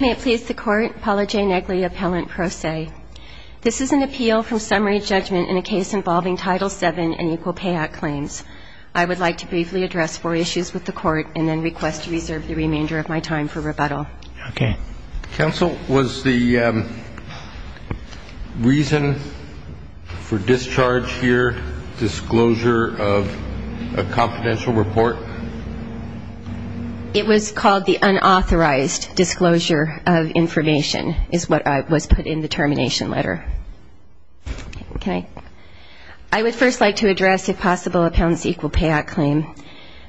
May it please the court, Paula J. Negley, appellant pro se. This is an appeal from summary judgment in a case involving Title VII and Equal Pay Act claims. I would like to briefly address four issues with the court and then request to reserve the remainder of my time for rebuttal. Okay. Counsel, was the reason for discharge here disclosure of a confidential report? It was called the unauthorized disclosure of information is what was put in the termination letter. Okay. I would first like to address if possible appellant's Equal Pay Act claim.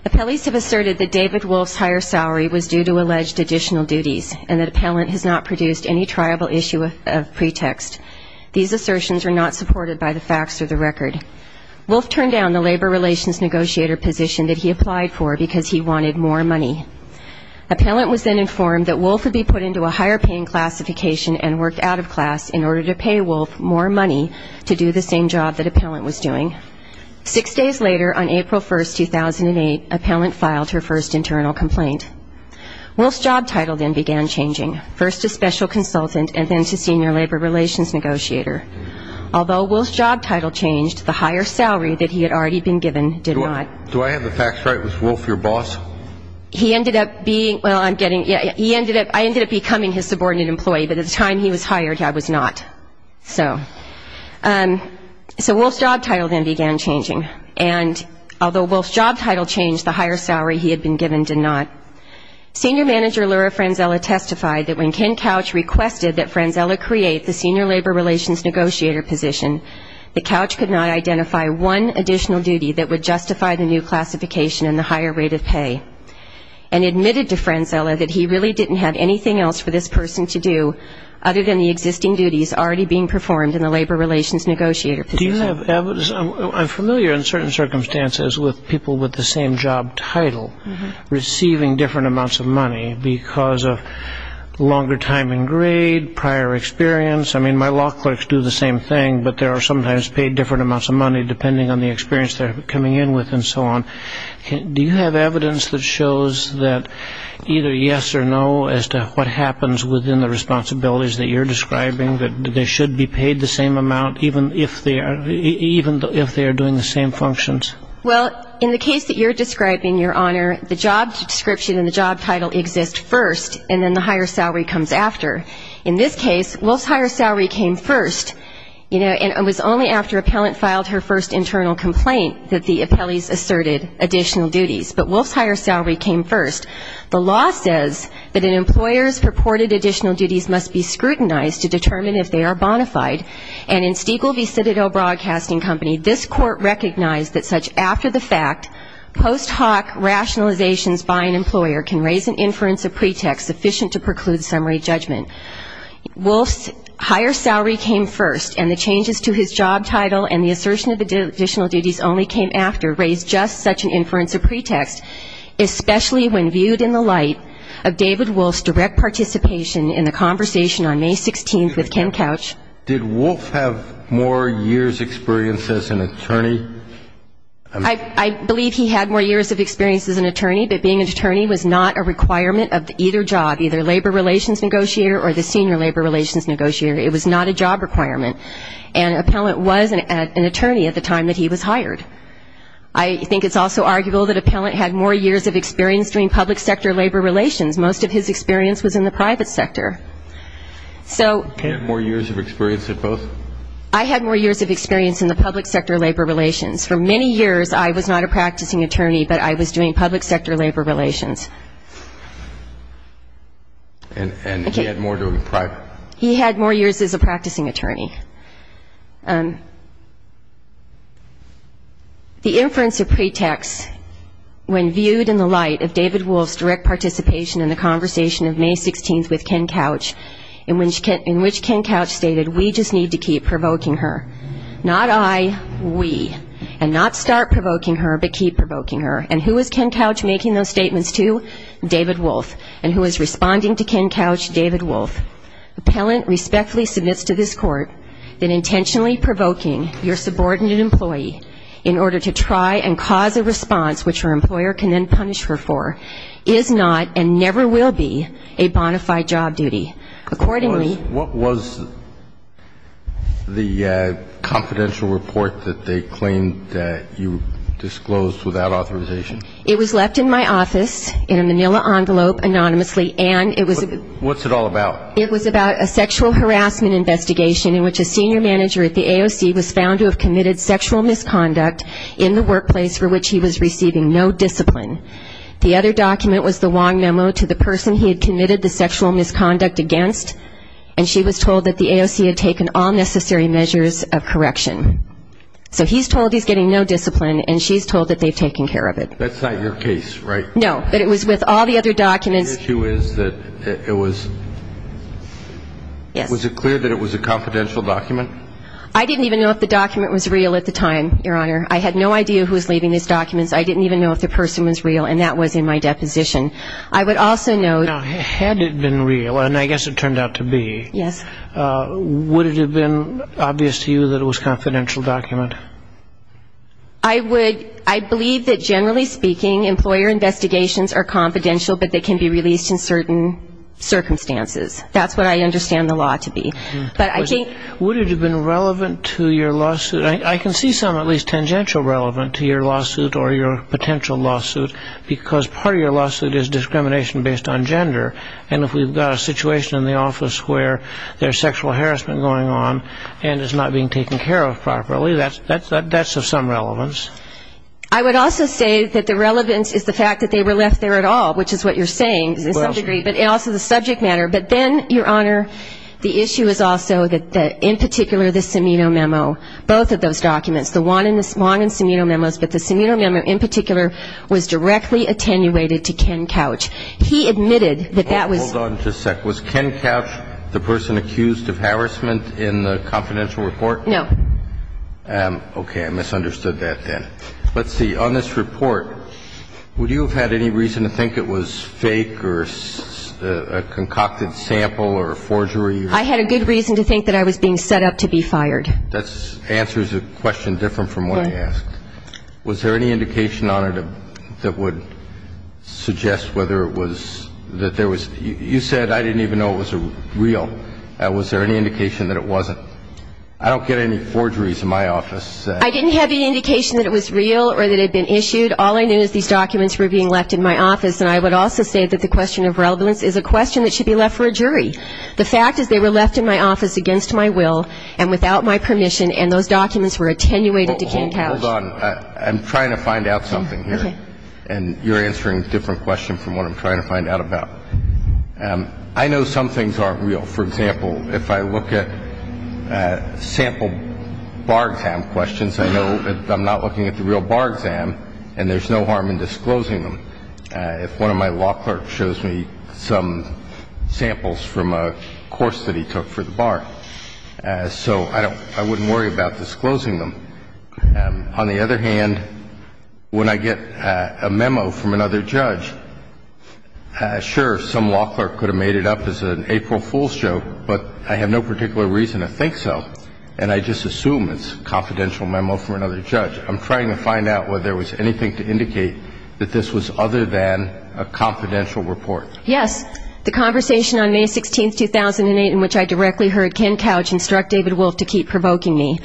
Appellees have asserted that David Wolfe's higher salary was due to alleged additional duties and that appellant has not produced any triable issue of pretext. These assertions are not supported by the facts or the record. Wolfe turned down the labor relations negotiator position that he applied for because he wanted more money. Appellant was then informed that Wolfe would be put into a higher paying classification and worked out of class in order to pay Wolfe more money to do the same job that appellant was doing. Six days later on April 1st, 2008, appellant filed her first internal complaint. Wolfe's job title then began changing, first to special consultant and then to senior labor relations negotiator. Although Wolfe's job title changed, the higher salary that he had already been given did not. Do I have the facts right? Was Wolfe your boss? He ended up being, well, I'm getting, he ended up, I ended up becoming his subordinate employee, but at the time he was hired, I was not. So. So Wolfe's job title then began changing. And although Wolfe's job title changed, the higher salary he had been given did not. Senior manager Laura Franzella testified that when Ken Couch requested that Franzella create the senior labor relations negotiator position, that Couch could not identify one additional duty that would justify the new classification and the higher rate of pay. And admitted to Franzella that he really didn't have anything else for this person to do other than the existing duties already being performed in the labor relations negotiator position. I'm familiar in certain circumstances with people with the same job title receiving different amounts of money because of longer time in grade, prior experience. I mean, my law clerks do the same thing, but there are sometimes paid different amounts of money depending on the experience they're coming in with and so on. Do you have evidence that shows that either yes or no as to what happens within the responsibilities that you're describing, that they should be paid the same amount even if they are, even if they are doing the same functions? Well, in the case that you're describing, Your Honor, the job description and the job title exist first and then the higher salary comes after. In this case, Wolfe's higher salary came first, you know, and it was only after appellant filed her first internal complaint that the appellees asserted additional duties. But Wolfe's higher salary came first. The law says that an employer's purported additional duties must be scrutinized to determine if they are bona fide. And in Stiegel v. Citadel Broadcasting Company, this court recognized that such after-the-fact post hoc rationalizations by an employer can raise an inference of pretext sufficient to preclude summary judgment. Wolfe's higher salary came first and the changes to his job title and the assertion of additional duties only came after raised just such an inference of pretext, especially when viewed in the light of David Wolfe's direct participation in the conversation on May 16th with Ken Couch. Did Wolfe have more years experience as an attorney? I believe he had more years of experience as an attorney, but being an attorney was not a requirement of either job, either labor relations negotiator or the senior labor relations negotiator. It was not a job requirement. And an appellant was an attorney at the time that he was hired. I think it's also arguable that an appellant had more years of experience doing public sector labor relations. Most of his experience was in the private sector. He had more years of experience in both? I had more years of experience in the public sector labor relations. For many years, I was not a practicing attorney, but I was doing public sector labor relations. And he had more years as a practicing attorney. The inference of pretext when viewed in the light of David Wolfe's direct participation in the conversation of May 16th with Ken Couch, in which Ken Couch stated, we just need to keep provoking her. Not I, we. And not start provoking her, but keep provoking her. And who is Ken Couch making those statements to? David Wolfe. And who is responding to Ken Couch? David Wolfe. An appellant respectfully submits to this court that intentionally provoking your subordinate employee in order to try and cause a response, which her employer can then punish her for, is not and never will be a bona fide job duty. Accordingly --" What was the confidential report that they claimed that you disclosed without authorization? It was left in my office in a manila envelope anonymously. What's it all about? It was about a sexual harassment investigation in which a senior manager at the AOC was found to have committed sexual misconduct in the workplace for which he was receiving no discipline. The other document was the long memo to the person he had committed the sexual misconduct against, and she was told that the AOC had taken all necessary measures of correction. So he's told he's getting no discipline, and she's told that they've taken care of it. That's not your case, right? No, but it was with all the other documents. The issue is that it was, was it clear that it was a confidential document? I didn't even know if the document was real at the time, Your Honor. I had no idea who was leaving these documents. I didn't even know if the person was real, and that was in my deposition. Now, had it been real, and I guess it turned out to be, would it have been obvious to you that it was a confidential document? I believe that, generally speaking, employer investigations are confidential, but they can be released in certain circumstances. That's what I understand the law to be. Would it have been relevant to your lawsuit? I can see some at least tangential relevance to your lawsuit or your potential lawsuit, because part of your lawsuit is discrimination based on gender, and if we've got a situation in the office where there's sexual harassment going on and it's not being taken care of properly, that's of some relevance. I would also say that the relevance is the fact that they were left there at all, which is what you're saying to some degree, but also the subject matter. But then, Your Honor, the issue is also that, in particular, the Cimino memo, both of those documents, the one in Cimino memos, but the Cimino memo in particular was directly attenuated to Ken Couch. He admitted that that was... Hold on just a sec. Was Ken Couch the person accused of harassment in the confidential report? No. Okay. I misunderstood that then. Let's see. On this report, would you have had any reason to think it was fake or a concocted sample or forgery? I had a good reason to think that I was being set up to be fired. That answers a question different from what I asked. Was there any indication on it that would suggest whether it was, that there was, you said I didn't even know it was real. Was there any indication that it wasn't? I don't get any forgeries in my office. I didn't have any indication that it was real or that it had been issued. All I knew is these documents were being left in my office. And I would also say that the question of relevance is a question that should be left for a jury. The fact is they were left in my office against my will and without my permission and those documents were attenuated to Ken Couch. Hold on. I'm trying to find out something here. And you're answering a different question from what I'm trying to find out about. I know some things aren't real. For example, if I look at sample bar exam questions, I know that I'm not looking at the real bar exam and there's no harm in disclosing them. If one of my law clerks shows me some samples from a course that he took for the bar. So I don't, I wouldn't worry about disclosing them. On the other hand, when I get a memo from another judge, sure, some law clerk could have made it up as an April Fool's joke, but I have no particular reason to think so and I just assume it's a confidential memo from another judge. I'm trying to find out whether there was anything to indicate that this was other than a confidential report. Yes. The conversation on May 16, 2008 in which I directly heard Ken Couch instruct David Wolf to keep provoking me.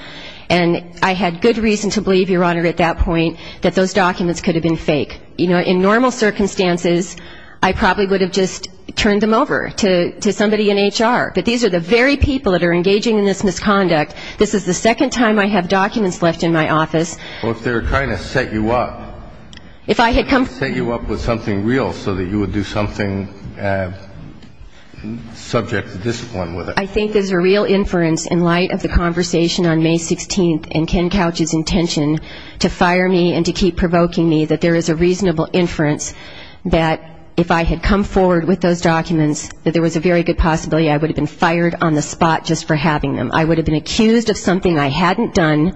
And I had good reason to believe, Your Honor, at that point that those documents could have been fake. You know, in normal circumstances, I probably would have just turned them over to somebody in HR. But these are the very people that are engaging in this misconduct. This is the second time I have documents left in my office. Well, if they were trying to set you up. If I had come. Set you up with something real so that you would do something subject to discipline with it. I think there's a real inference in light of the conversation on May 16th and Ken Couch's intention to fire me and to keep provoking me that there is a reasonable inference that if I had come forward with those documents, that there was a very good possibility I would have been fired on the spot just for having them. I would have been accused of something I hadn't done,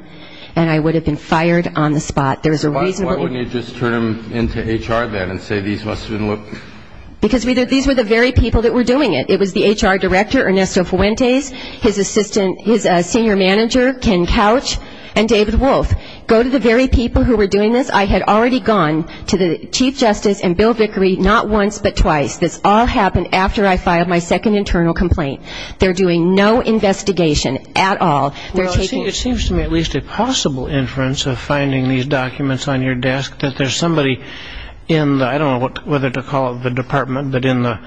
and I would have been fired on the spot. There's a reasonable inference. Why wouldn't you just turn them into HR then and say these must have been looked at? Because these were the very people that were doing it. It was the HR director, Ernesto Fuentes, his assistant, his senior manager, Ken Couch, and David Wolf. Go to the very people who were doing this. I had already gone to the chief justice and Bill Vickery not once but twice. This all happened after I filed my second internal complaint. They're doing no investigation at all. Well, it seems to me at least a possible inference of finding these documents on your desk that there's somebody in the, I don't know whether to call it the department, but in the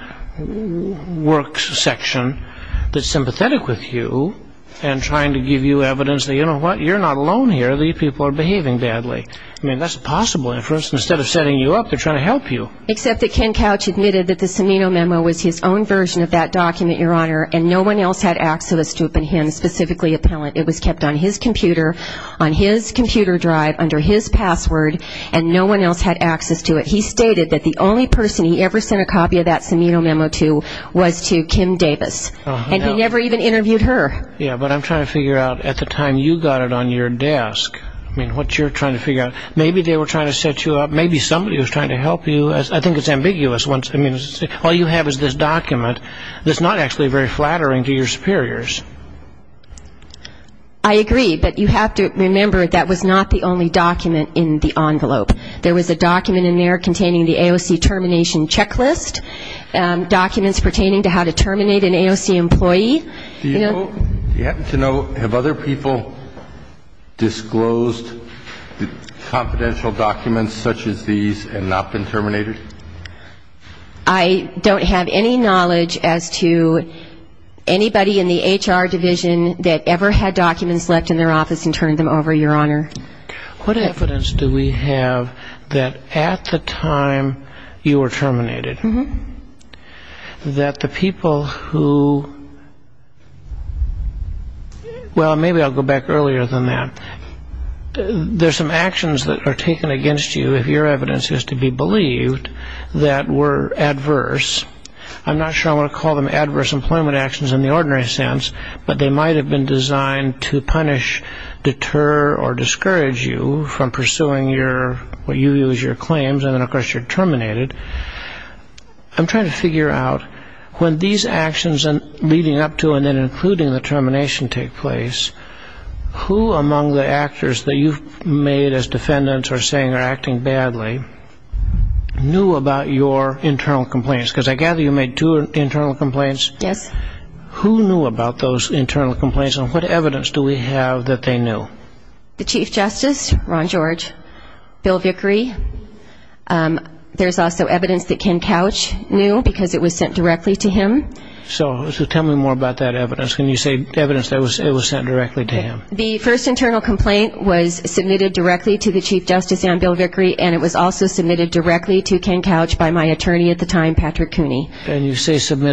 works section that's sympathetic with you and trying to give you evidence that, you know what, you're not alone here. These people are behaving badly. I mean, that's a possible inference. Instead of setting you up, they're trying to help you. Except that Ken Couch admitted that the Cimino memo was his own version of that document, Your Honor, and no one else had access to it but him, specifically Appellant. It was kept on his computer, on his computer drive under his password, and no one else had access to it. He stated that the only person he ever sent a copy of that Cimino memo to was to Kim Davis, and he never even interviewed her. Yeah, but I'm trying to figure out at the time you got it on your desk, I mean, what you're trying to figure out. Maybe they were trying to set you up. Maybe somebody was trying to help you. I think it's ambiguous. I mean, all you have is this document that's not actually very flattering to your superiors. I agree, but you have to remember that was not the only document in the envelope. There was a document in there containing the AOC termination checklist, documents pertaining to how to terminate an AOC employee. Do you happen to know, have other people disclosed confidential documents such as these and not been terminated? I don't have any knowledge as to anybody in the HR division that ever had documents left in their office and turned them over, Your Honor. What evidence do we have that at the time you were terminated, that the people who, well, maybe I'll go back earlier than that. There's some actions that are taken against you, if your evidence is to be believed, that were adverse. I'm not sure I want to call them adverse employment actions in the ordinary sense, but they might have been designed to punish, deter, or discourage you from pursuing your, what you view as your claims, and, of course, you're terminated. I'm trying to figure out when these actions leading up to and then including the termination take place, who among the actors that you've made as defendants or saying are acting badly knew about your internal complaints? Because I gather you made two internal complaints. Yes. Who knew about those internal complaints, and what evidence do we have that they knew? The Chief Justice, Ron George, Bill Vickery. There's also evidence that Ken Couch knew because it was sent directly to him. So tell me more about that evidence. Can you say evidence that it was sent directly to him? The first internal complaint was submitted directly to the Chief Justice and Bill Vickery, and it was also submitted directly to Ken Couch by my attorney at the time, Patrick Cooney. And you say submitted.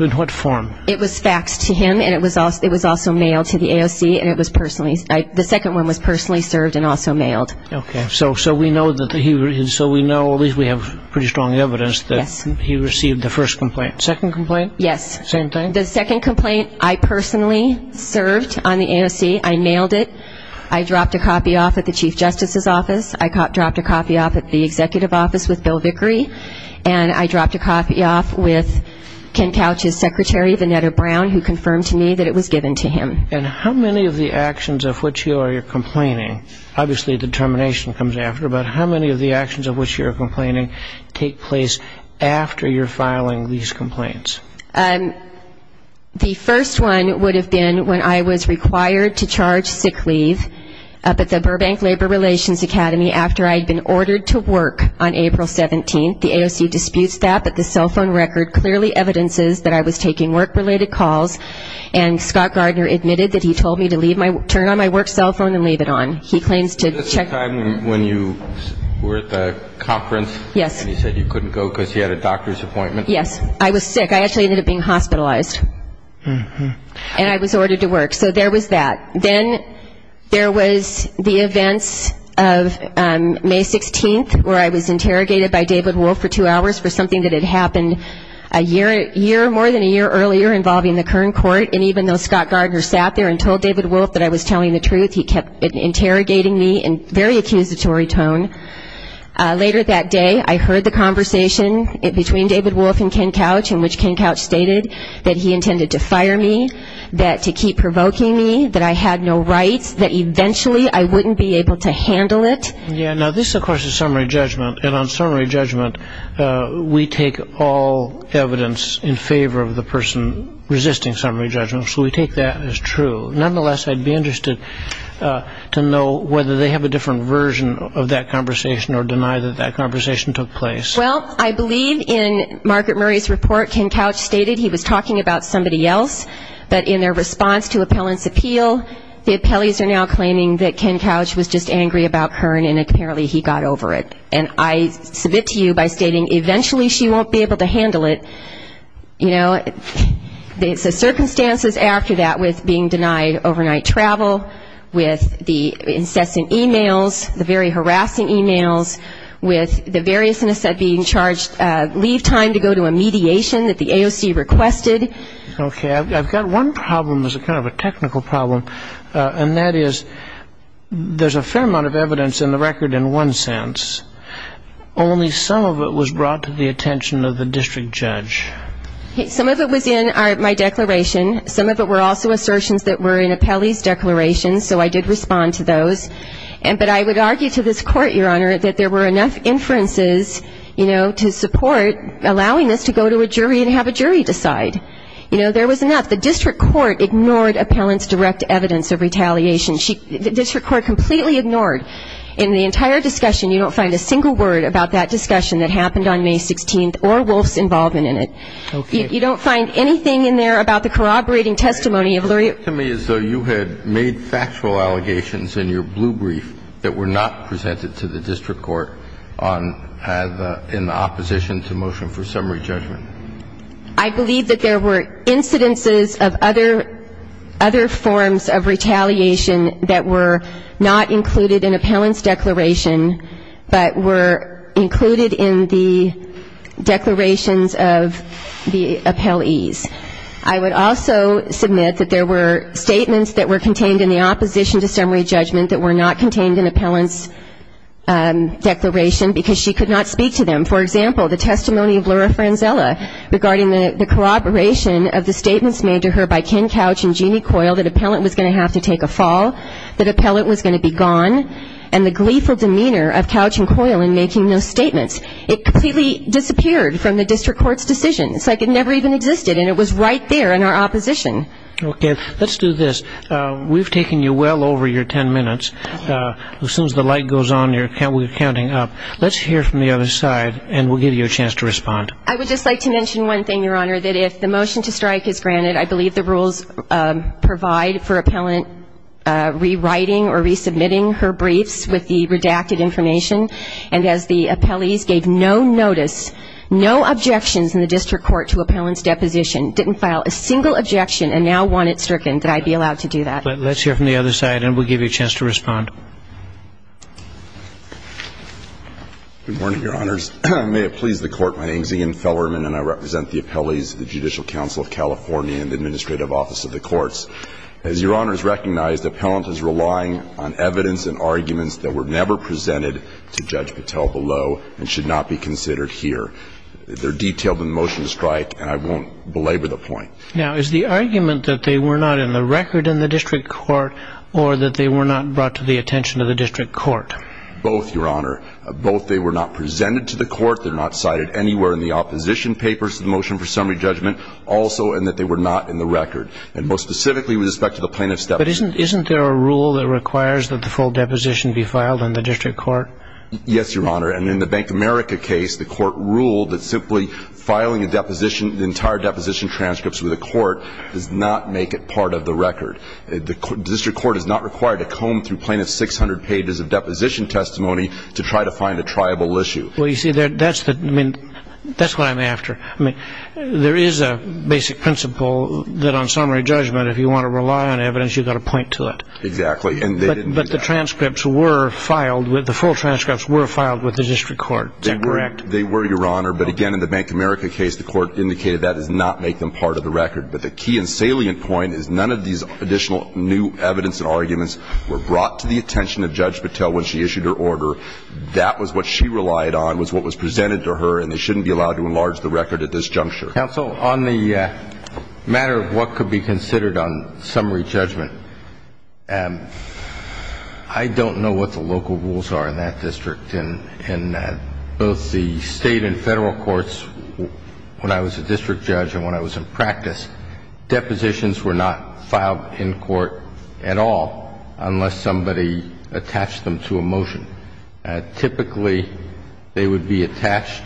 In what form? It was faxed to him, and it was also mailed to the AOC, and it was personally, the second one was personally served and also mailed. Okay. So we know, at least we have pretty strong evidence, that he received the first complaint. Second complaint? Yes. Same thing? The second complaint, I personally served on the AOC. I mailed it. I dropped a copy off at the Chief Justice's office. I dropped a copy off at the executive office with Bill Vickery, and I dropped a copy off with Ken Couch's secretary, Venetta Brown, who confirmed to me that it was given to him. And how many of the actions of which you are complaining, obviously the termination comes after, but how many of the actions of which you are complaining take place after you're filing these complaints? The first one would have been when I was required to charge sick leave up at the Burbank Labor Relations Academy after I had been ordered to work on April 17th. The AOC disputes that, but the cell phone record clearly evidences that I was taking work-related calls, and Scott Gardner admitted that he told me to turn on my work cell phone and leave it on. He claims to check. Is this the time when you were at the conference? Yes. And you said you couldn't go because you had a doctor's appointment? Yes. I was sick. I actually ended up being hospitalized, and I was ordered to work. So there was that. Then there was the events of May 16th, where I was interrogated by David Wolf for two hours for something that had happened a year, more than a year earlier, involving the Kern Court, and even though Scott Gardner sat there and told David Wolf that I was telling the truth, he kept interrogating me in very accusatory tone. Later that day, I heard the conversation between David Wolf and Ken Couch, in which Ken Couch stated that he intended to fire me, that to keep provoking me, that I had no rights, that eventually I wouldn't be able to handle it. Yes. Now this, of course, is summary judgment, and on summary judgment, we take all evidence in favor of the person resisting summary judgment, so we take that as true. Nonetheless, I'd be interested to know whether they have a different version of that conversation or deny that that conversation took place. Well, I believe in Margaret Murray's report, Ken Couch stated he was talking about somebody else, but in their response to appellant's appeal, the appellees are now claiming that Ken Couch was just angry about Kern, and apparently he got over it. And I submit to you by stating eventually she won't be able to handle it. You know, the circumstances after that with being denied overnight travel, with the incessant e-mails, the very harassing e-mails, with the various innocent being charged, leave time to go to a mediation that the AOC requested. Okay. I've got one problem that's kind of a technical problem, and that is there's a fair amount of evidence in the record in one sense. Only some of it was brought to the attention of the district judge. Some of it was in my declaration. Some of it were also assertions that were in appellee's declaration, so I did respond to those. But I would argue to this Court, Your Honor, that there were enough inferences, you know, to support allowing this to go to a jury and have a jury decide. You know, there was enough. The district court ignored appellant's direct evidence of retaliation. The district court completely ignored. In the entire discussion, you don't find a single word about that discussion that happened on May 16th or Wolf's involvement in it. Okay. You don't find anything in there about the corroborating testimony of Luria. Tell me as though you had made factual allegations in your blue brief that were not presented to the district court in the opposition to motion for summary judgment. I believe that there were incidences of other forms of retaliation that were not included in appellant's declaration, but were included in the declarations of the appellees. I would also submit that there were statements that were contained in the opposition to summary judgment that were not contained in appellant's declaration because she could not speak to them. For example, the testimony of Luria Franzella regarding the corroboration of the statements made to her by Ken Couch and Jeannie Coyle that appellant was going to have to take a fall, that appellant was going to be gone, and the gleeful demeanor of Couch and Coyle in making those statements. It completely disappeared from the district court's decision. It's like it never even existed, and it was right there in our opposition. Okay. Let's do this. We've taken you well over your ten minutes. As soon as the light goes on, we're counting up. Let's hear from the other side, and we'll give you a chance to respond. I would just like to mention one thing, Your Honor, that if the motion to strike is granted, I believe the rules provide for appellant rewriting or resubmitting her briefs with the redacted information, and as the appellees gave no notice, no objections in the district court to appellant's deposition, didn't file a single objection, and now want it stricken that I be allowed to do that. Let's hear from the other side, and we'll give you a chance to respond. Good morning, Your Honors. May it please the Court, my name is Ian Fellerman, and I represent the appellees of the Judicial Council of California and the Administrative Office of the Courts. As Your Honors recognize, the appellant is relying on evidence and arguments that were never presented to Judge Patel below and should not be considered here. They're detailed in the motion to strike, and I won't belabor the point. Now, is the argument that they were not in the record in the district court, or that they were not brought to the attention of the district court? Both, Your Honor. Both they were not presented to the court, they're not cited anywhere in the opposition papers to the motion for summary judgment, also, and that they were not in the record. And most specifically, with respect to the plaintiff's deposition. But isn't there a rule that requires that the full deposition be filed in the district court? Yes, Your Honor. And in the Bank of America case, the court ruled that simply filing a deposition, the entire deposition transcripts with the court, does not make it part of the record. The district court is not required to comb through plaintiff's 600 pages of deposition testimony to try to find a triable issue. Well, you see, that's what I'm after. There is a basic principle that on summary judgment, if you want to rely on evidence, you've got to point to it. Exactly. And they didn't do that. But the transcripts were filed with, the full transcripts were filed with the district court. Is that correct? They were, Your Honor. But again, in the Bank of America case, the court indicated that does not make them part of the record. But the key and salient point is none of these additional new evidence and arguments were brought to the attention of Judge Patel when she issued her order. That was what she relied on, was what was presented to her, and they shouldn't be allowed to enlarge the record at this juncture. Counsel, on the matter of what could be considered on summary judgment, I don't know what the local rules are in that district. In both the State and Federal courts, when I was a district judge and when I was in practice, depositions were not filed in court at all unless somebody attached them to a motion. Typically, they would be attached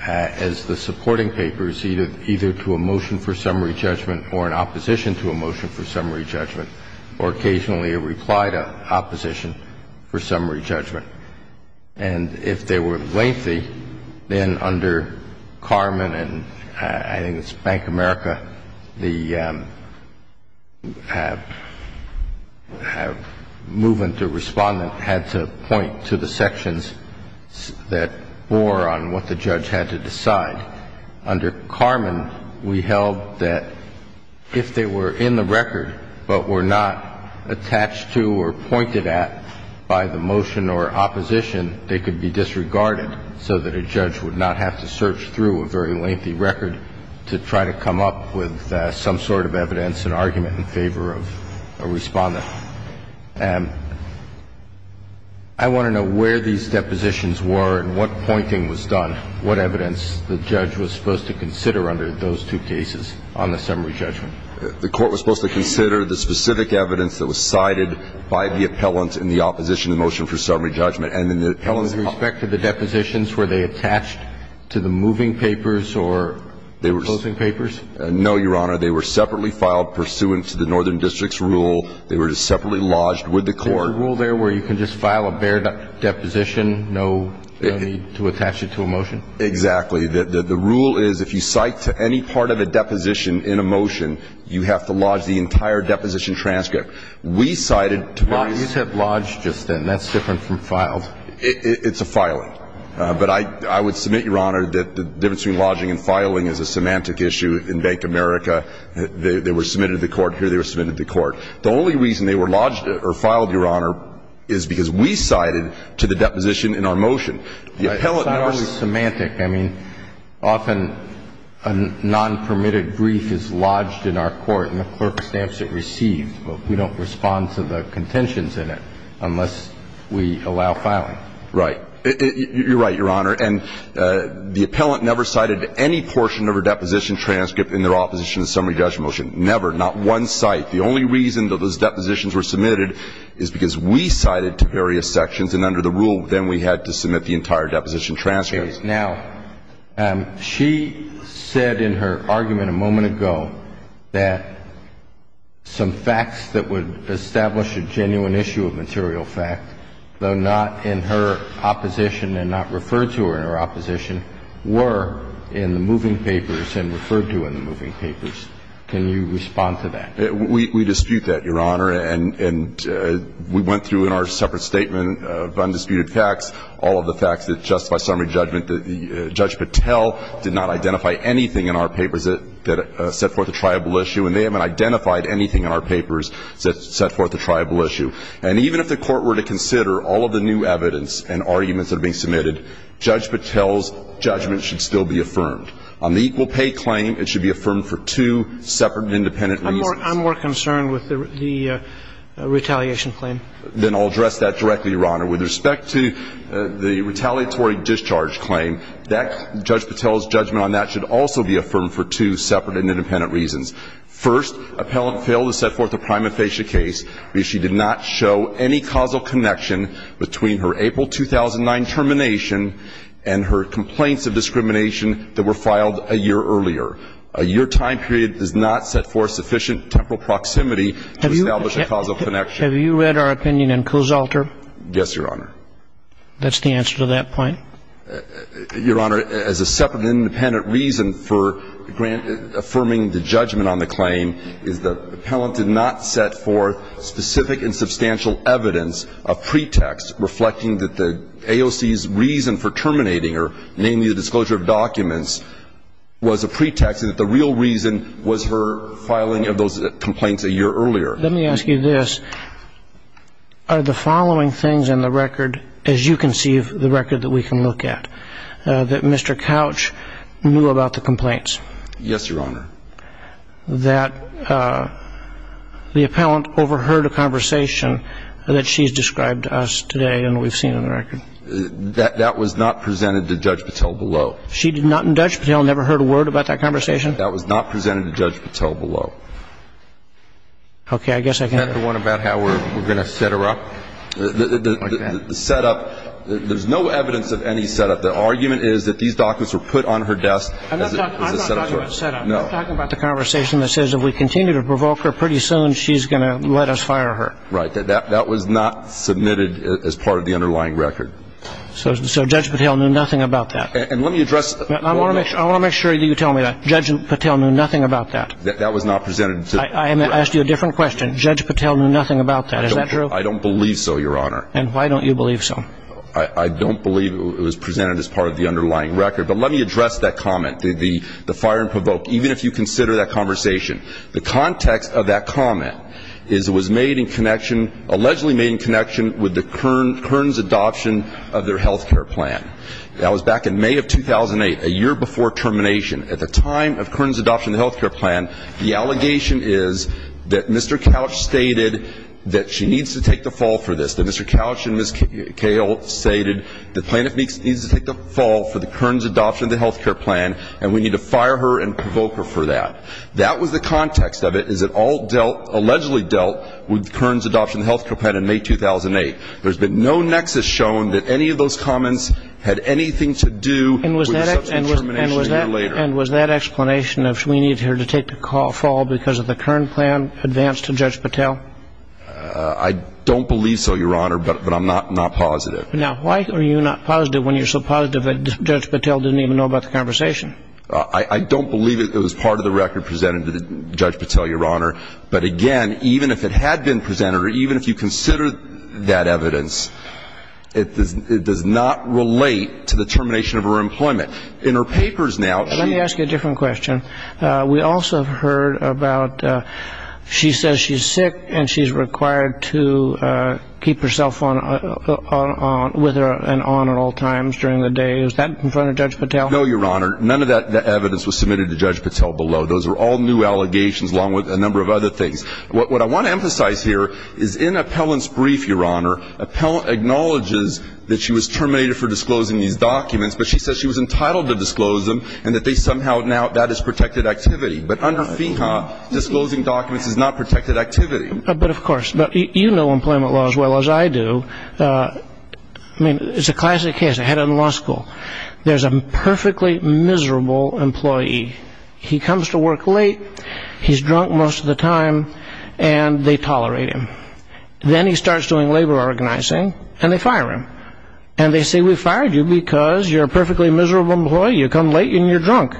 as the supporting papers either to a motion for summary judgment or an opposition to a motion for summary judgment or occasionally a reply to opposition for summary judgment. And if they were lengthy, then under Carman and I think it's Bank of America, the movement or respondent had to point to the sections that bore on what the judge had to decide. Under Carman, we held that if they were in the record but were not attached to or pointed at by the motion or opposition, they could be disregarded so that a judge would not have to search through a very lengthy record to try to come up with some sort of evidence and argument in favor of a respondent. And I want to know where these depositions were and what pointing was done, what evidence the judge was supposed to consider under those two cases on the summary judgment. The Court was supposed to consider the specific evidence that was cited by the appellant in the opposition to the motion for summary judgment. And then the appellant's comment. With respect to the depositions, were they attached to the moving papers or the opposing papers? No, Your Honor. They were separately filed pursuant to the Northern District's rule. They were just separately lodged with the Court. Is there a rule there where you can just file a bare deposition, no need to attach it to a motion? Exactly. The rule is if you cite to any part of a deposition in a motion, you have to lodge the entire deposition transcript. We cited twice. You said lodged just then. That's different from filed. It's a filing. But I would submit, Your Honor, that the difference between lodging and filing is a semantic issue in Bank America. They were submitted to the Court. Here they were submitted to the Court. The only reason they were lodged or filed, Your Honor, is because we cited to the deposition in our motion. It's not always semantic. I mean, often a nonpermitted brief is lodged in our Court and the clerk stamps it received. We don't respond to the contentions in it unless we allow filing. Right. You're right, Your Honor. And the appellant never cited any portion of her deposition transcript in their opposition to the summary judgment motion. Never, not one cite. The only reason that those depositions were submitted is because we cited to various sections, and under the rule, then we had to submit the entire deposition transcript. Now, she said in her argument a moment ago that some facts that would establish a genuine issue of material fact, though not in her opposition and not referred to her in her opposition, were in the moving papers and referred to in the moving papers. Can you respond to that? We dispute that, Your Honor. And we went through in our separate statement of undisputed facts all of the facts that justify summary judgment that Judge Patel did not identify anything in our papers that set forth a triable issue, and they haven't identified anything in our papers that set forth a triable issue. And even if the Court were to consider all of the new evidence and arguments that are being submitted, Judge Patel's judgment should still be affirmed. On the equal pay claim, it should be affirmed for two separate and independent reasons. I'm more concerned with the retaliation claim. Then I'll address that directly, Your Honor. With respect to the retaliatory discharge claim, Judge Patel's judgment on that should also be affirmed for two separate and independent reasons. First, appellant failed to set forth a prima facie case because she did not show any causal connection between her April 2009 termination and her complaints of discrimination that were filed a year earlier. Your time period does not set forth sufficient temporal proximity to establish a causal connection. Have you read our opinion in Kozolter? Yes, Your Honor. That's the answer to that point? Your Honor, as a separate and independent reason for affirming the judgment on the claim is that appellant did not set forth specific and substantial evidence of pretext reflecting that the AOC's reason for terminating her, namely the disclosure of documents, was a pretext that the real reason was her filing of those complaints a year earlier. Let me ask you this. Are the following things in the record, as you conceive the record that we can look at, that Mr. Couch knew about the complaints? Yes, Your Honor. That the appellant overheard a conversation that she has described to us today and we've seen in the record. That was not presented to Judge Patel below. She did not and Judge Patel never heard a word about that conversation? That was not presented to Judge Patel below. Okay. I guess I can go. Another one about how we're going to set her up. The setup, there's no evidence of any setup. The argument is that these documents were put on her desk as a setup. I'm not talking about setup. No. I'm talking about the conversation that says if we continue to provoke her pretty soon, she's going to let us fire her. Right. That was not submitted as part of the underlying record. So Judge Patel knew nothing about that. And let me address. I want to make sure that you tell me that. Judge Patel knew nothing about that. That was not presented. I'm going to ask you a different question. Judge Patel knew nothing about that. Is that true? I don't believe so, Your Honor. And why don't you believe so? I don't believe it was presented as part of the underlying record. But let me address that comment, the fire and provoke, even if you consider that conversation. The context of that comment is it was made in connection, allegedly made in connection with the Kearns adoption of their health care plan. That was back in May of 2008, a year before termination. At the time of Kearns adoption of the health care plan, the allegation is that Mr. Couch stated that she needs to take the fall for this, that Mr. Couch and Ms. Cahill stated the plaintiff needs to take the fall for the Kearns adoption of the health care plan and we need to fire her and provoke her for that. That was the context of it is it all allegedly dealt with Kearns adoption of the health care plan in May 2008. There's been no nexus shown that any of those comments had anything to do with the subsequent termination a year later. And was that explanation of we need her to take the fall because of the Kearns plan advanced to Judge Patel? I don't believe so, Your Honor, but I'm not positive. Now, why are you not positive when you're so positive that Judge Patel didn't even know about the conversation? I don't believe it was part of the record presented to Judge Patel, Your Honor. But, again, even if it had been presented or even if you consider that evidence, it does not relate to the termination of her employment. In her papers now, she... Let me ask you a different question. We also heard about she says she's sick and she's required to keep her cell phone on with her and on at all times during the day. Is that in front of Judge Patel? No, Your Honor. None of that evidence was submitted to Judge Patel below. Those are all new allegations along with a number of other things. What I want to emphasize here is in Appellant's brief, Your Honor, Appellant acknowledges that she was terminated for disclosing these documents, but she says she was entitled to disclose them and that they somehow now that is protected activity. But under FEHA, disclosing documents is not protected activity. But, of course, you know employment law as well as I do. I mean, it's a classic case I had in law school. There's a perfectly miserable employee. He comes to work late. He's drunk most of the time and they tolerate him. Then he starts doing labor organizing and they fire him. And they say, we fired you because you're a perfectly miserable employee. You come late and you're drunk.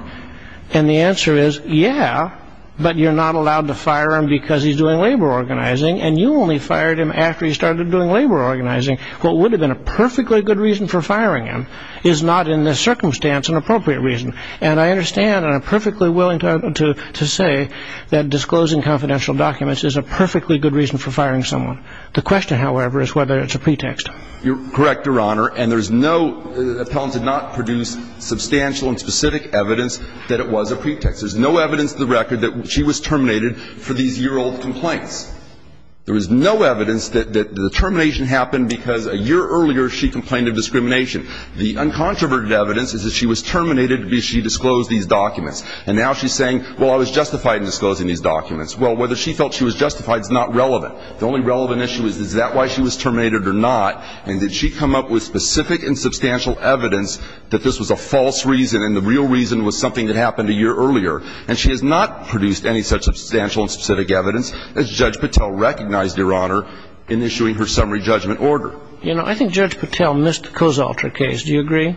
And the answer is, yeah, but you're not allowed to fire him because he's doing labor organizing and you only fired him after he started doing labor organizing. What would have been a perfectly good reason for firing him is not in this circumstance an appropriate reason. And I understand and I'm perfectly willing to say that disclosing confidential documents is a perfectly good reason for firing someone. The question, however, is whether it's a pretext. You're correct, Your Honor. And there's no – Appellant did not produce substantial and specific evidence that it was a pretext. There's no evidence in the record that she was terminated for these year-old complaints. There is no evidence that the termination happened because a year earlier she complained of discrimination. The uncontroverted evidence is that she was terminated because she disclosed these documents. And now she's saying, well, I was justified in disclosing these documents. Well, whether she felt she was justified is not relevant. The only relevant issue is, is that why she was terminated or not? And did she come up with specific and substantial evidence that this was a false reason and the real reason was something that happened a year earlier? And she has not produced any such substantial and specific evidence, as Judge Patel recognized, Your Honor, in issuing her summary judgment order. You know, I think Judge Patel missed the Cozalter case. Do you agree?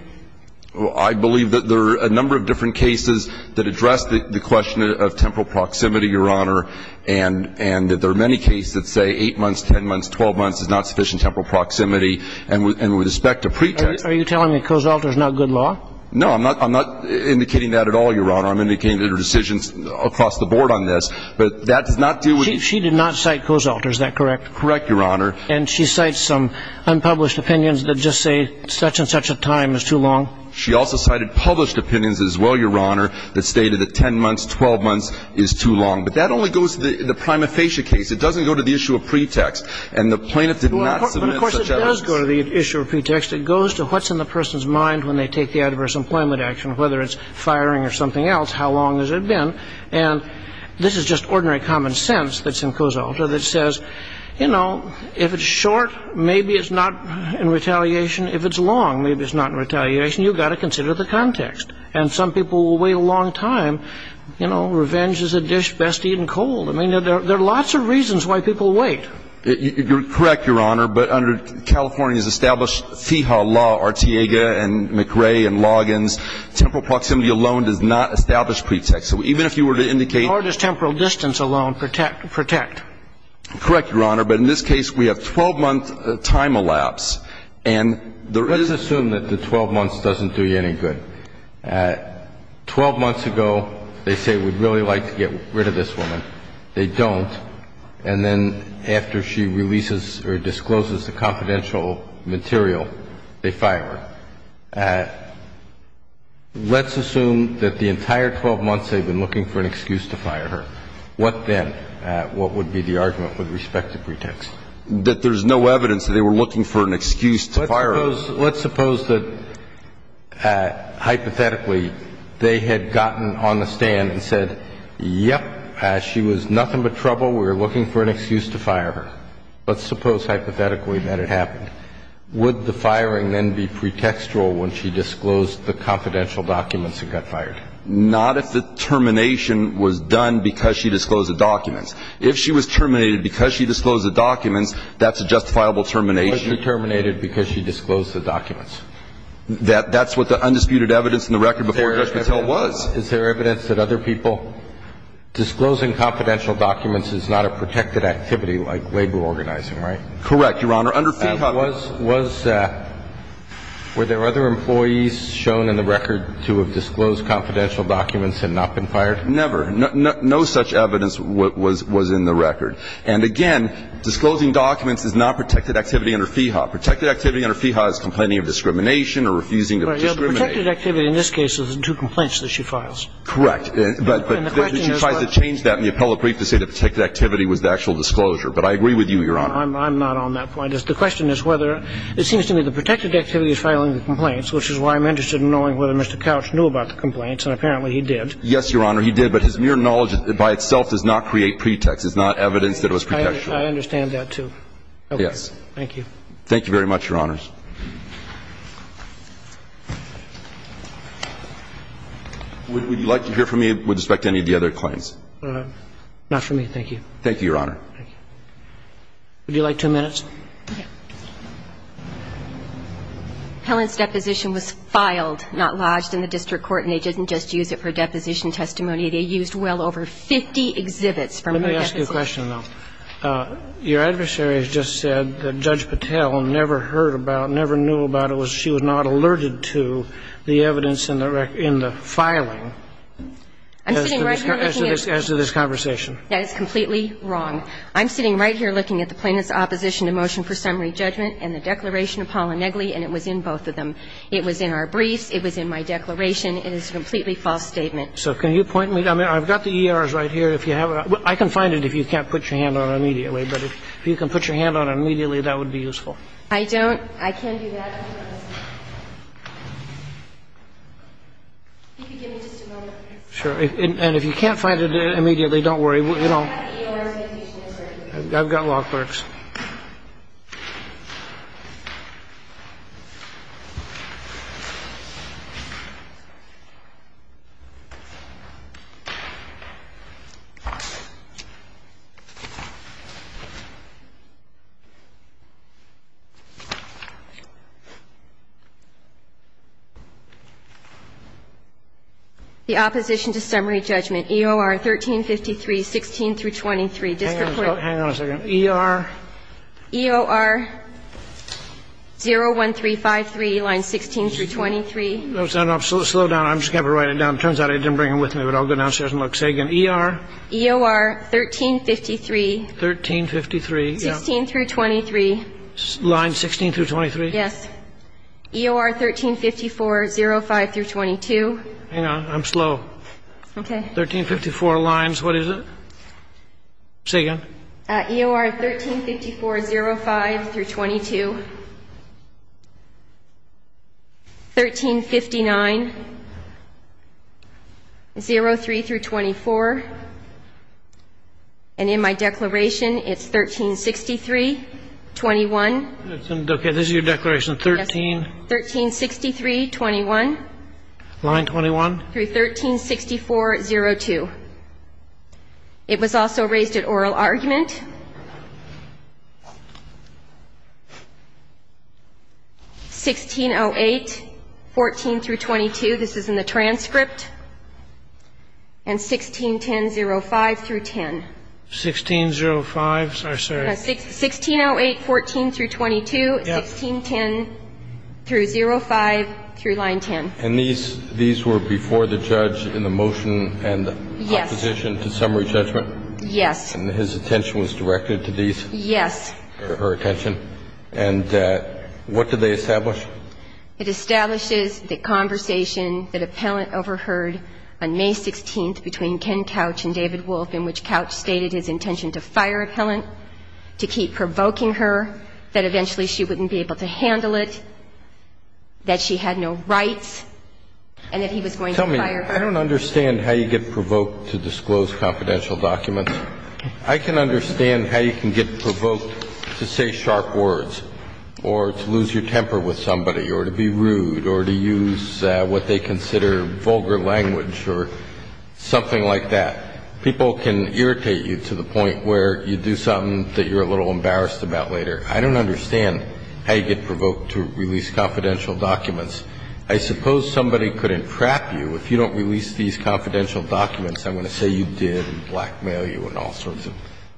Well, I believe that there are a number of different cases that address the question of temporal proximity, Your Honor, and that there are many cases that say 8 months, 10 months, 12 months is not sufficient temporal proximity. And with respect to pretexts – Are you telling me Cozalter is not good law? No, I'm not indicating that at all, Your Honor. I'm indicating that there are decisions across the board on this. But that does not do – She did not cite Cozalter. Is that correct? Correct, Your Honor. And she cites some unpublished opinions that just say such-and-such a time is too long? She also cited published opinions as well, Your Honor, that stated that 10 months, 12 months is too long. But that only goes to the prima facie case. It doesn't go to the issue of pretext. And the plaintiff did not submit such evidence. Well, of course it does go to the issue of pretext. It goes to what's in the person's mind when they take the adverse employment action, whether it's firing or something else, how long has it been. And this is just ordinary common sense that's in Cozalter that says, you know, if it's short, maybe it's not in retaliation. If it's long, maybe it's not in retaliation. You've got to consider the context. And some people will wait a long time. You know, revenge is a dish best eaten cold. I mean, there are lots of reasons why people wait. You're correct, Your Honor. But under California's established FIHA law, Ortega and McRae and Loggins, temporal proximity alone does not establish pretext. So even if you were to indicate How does temporal distance alone protect? Correct, Your Honor. But in this case, we have a 12-month time elapse. And there is Let's assume that the 12 months doesn't do you any good. Twelve months ago, they say we'd really like to get rid of this woman. They don't. And then after she releases or discloses the confidential material, they fire her. Let's assume that the entire 12 months they've been looking for an excuse to fire her. What then? What would be the argument with respect to pretext? That there's no evidence that they were looking for an excuse to fire her. Let's suppose that hypothetically they had gotten on the stand and said, Yep, she was nothing but trouble. We were looking for an excuse to fire her. Let's suppose hypothetically that it happened. Would the firing then be pretextual when she disclosed the confidential documents and got fired? Not if the termination was done because she disclosed the documents. If she was terminated because she disclosed the documents, that's a justifiable termination. Was she terminated because she disclosed the documents? That's what the undisputed evidence in the record before Judge Mattel was. Is there evidence that other people Disclosing confidential documents is not a protected activity like labor organizing, right? Correct, Your Honor. Under FIHA Were there other employees shown in the record to have disclosed confidential documents and not been fired? Never. No such evidence was in the record. And again, disclosing documents is not protected activity under FIHA. Protected activity under FIHA is complaining of discrimination or refusing to discriminate. The protected activity in this case is the two complaints that she files. Correct. But she tries to change that in the appellate brief to say the protected activity was the actual disclosure. But I agree with you, Your Honor. I'm not on that point. The question is whether it seems to me the protected activity is filing the complaints, which is why I'm interested in knowing whether Mr. Couch knew about the complaints, and apparently he did. Yes, Your Honor, he did. But his mere knowledge by itself does not create pretext. It's not evidence that it was pretextual. I understand that, too. Yes. Thank you. Thank you very much, Your Honors. Would you like to hear from me with respect to any of the other claims? Not for me, thank you. Thank you, Your Honor. Thank you. Would you like two minutes? Okay. Helen's deposition was filed, not lodged in the district court, and they didn't just use it for deposition testimony. They used well over 50 exhibits from her deposition. Let me ask you a question, though. Your adversary has just said that Judge Patel never heard about, never knew about it. She was not alerted to the evidence in the filing as to this conversation. That is completely wrong. I'm sitting right here looking at the plaintiff's opposition to motion for summary judgment and the declaration of Paula Negley, and it was in both of them. It was in our briefs. It was in my declaration. It is a completely false statement. So can you point me to them? I've got the ERs right here. If you have it. I can find it if you can't put your hand on it immediately. But if you can put your hand on it immediately, that would be useful. I don't. I can do that. Could you give me just a moment, please? Sure. And if you can't find it immediately, don't worry. You know, I've got law clerks. The opposition to summary judgment, EOR 1353, 16 through 23. No, no. Slow down. I'm just going to write it down. It turns out I didn't bring it with me, but I'll go downstairs and look. Say again. ER. EOR 1353. Thirteen fifty-three. 16 through 23. Line 16 through 23? Yes. EOR 1354, 05 through 22. Hang on. I'm slow. Okay. 1354 lines. What is it? No. Say again. EOR 1354, 05 through 22. Thirteen fifty-nine. Zero three through 24. And in my declaration, it's 1363, 21. Okay. This is your declaration. Thirteen. Thirteen sixty-three, 21. Line 21. Through 1364, 02. It was also raised at oral argument. 1608, 14 through 22. This is in the transcript. And 1610, 05 through 10. 1605? Sorry. Sorry. 1608, 14 through 22. Yes. 1610 through 05 through line 10. And these were before the judge in the motion and opposition to summary judgment? Yes. And his attention was directed to these? Yes. Her attention. And what do they establish? It establishes the conversation that appellant overheard on May 16th between Ken Couch and David Wolfe, in which Couch stated his intention to fire appellant, to keep provoking her, that eventually she wouldn't be able to handle it, that she had no rights, and that he was going to fire her. Tell me, I don't understand how you get provoked to disclose confidential documents. I can understand how you can get provoked to say sharp words or to lose your temper with somebody or to be rude or to use what they consider vulgar language or something like that. People can irritate you to the point where you do something that you're a little embarrassed about later. I don't understand how you get provoked to release confidential documents. I suppose somebody could entrap you if you don't release these confidential documents. I'm going to say you did and blackmail you in all sorts of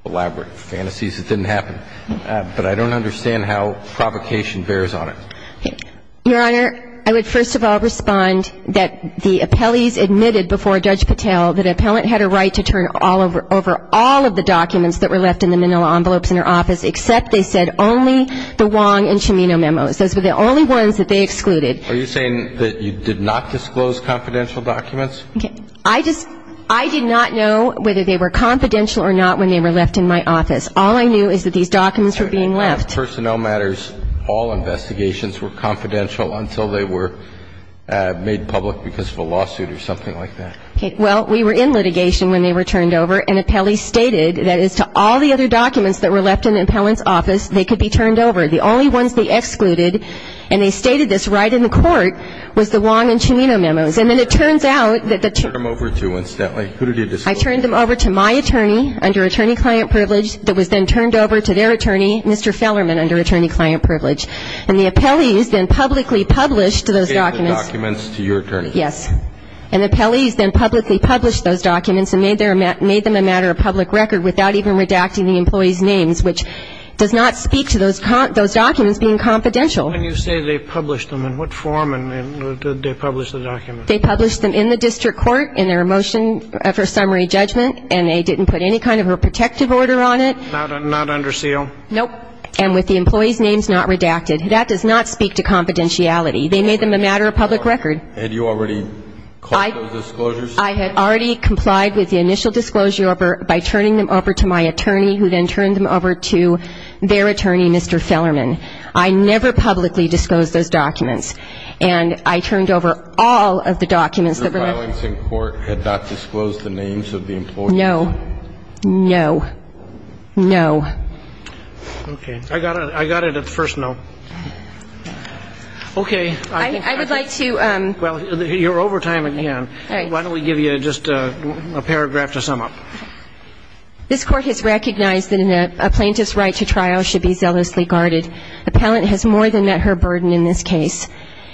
elaborate fantasies. It didn't happen. But I don't understand how provocation bears on it. Your Honor, I would first of all respond that the appellees admitted before Judge Patel that an appellant had a right to turn over all of the documents that were left in the manila envelopes in her office, except they said only the Wong and Cimino memos. Those were the only ones that they excluded. Are you saying that you did not disclose confidential documents? Okay. I did not know whether they were confidential or not when they were left in my office. All I knew is that these documents were being left. On personnel matters, all investigations were confidential until they were made public because of a lawsuit or something like that. Okay. Well, we were in litigation when they were turned over, and appellees stated that as to all the other documents that were left in the appellant's office, they could be turned over. The only ones they excluded, and they stated this right in the court, was the Wong and Cimino memos. And then it turns out that the ---- Who did you turn them over to, incidentally? Who did you disclose them to? I turned them over to my attorney, under attorney-client privilege, that was then turned over to their attorney, Mr. Fellerman, under attorney-client privilege. And the appellees then publicly published those documents. They gave the documents to your attorney. Yes. And the appellees then publicly published those documents and made them a matter of public record without even redacting the employees' names, which does not speak to those documents being confidential. When you say they published them, in what form did they publish the documents? They published them in the district court in their motion for summary judgment, and they didn't put any kind of a protective order on it. Not under seal? Nope. And with the employees' names not redacted. That does not speak to confidentiality. They made them a matter of public record. Had you already called those disclosures? I had already complied with the initial disclosure by turning them over to my attorney, who then turned them over to their attorney, Mr. Fellerman. I never publicly disclosed those documents. And I turned over all of the documents that were left. Your filings in court had not disclosed the names of the employees? No. No. No. Okay. I got it. I got it at the first no. Okay. Well, you're over time again. Why don't we give you just a paragraph to sum up? This court has recognized that a plaintiff's right to trial should be zealously guarded. Appellant has more than met her burden in this case.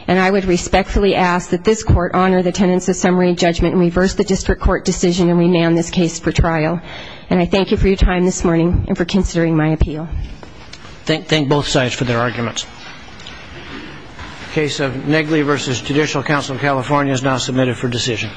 And I would respectfully ask that this court honor the tenets of summary judgment and reverse the district court decision and rename this case for trial. And I thank you for your time this morning and for considering my appeal. Thank both sides for their arguments. The case of Negley v. Judicial Council of California is now submitted for decision.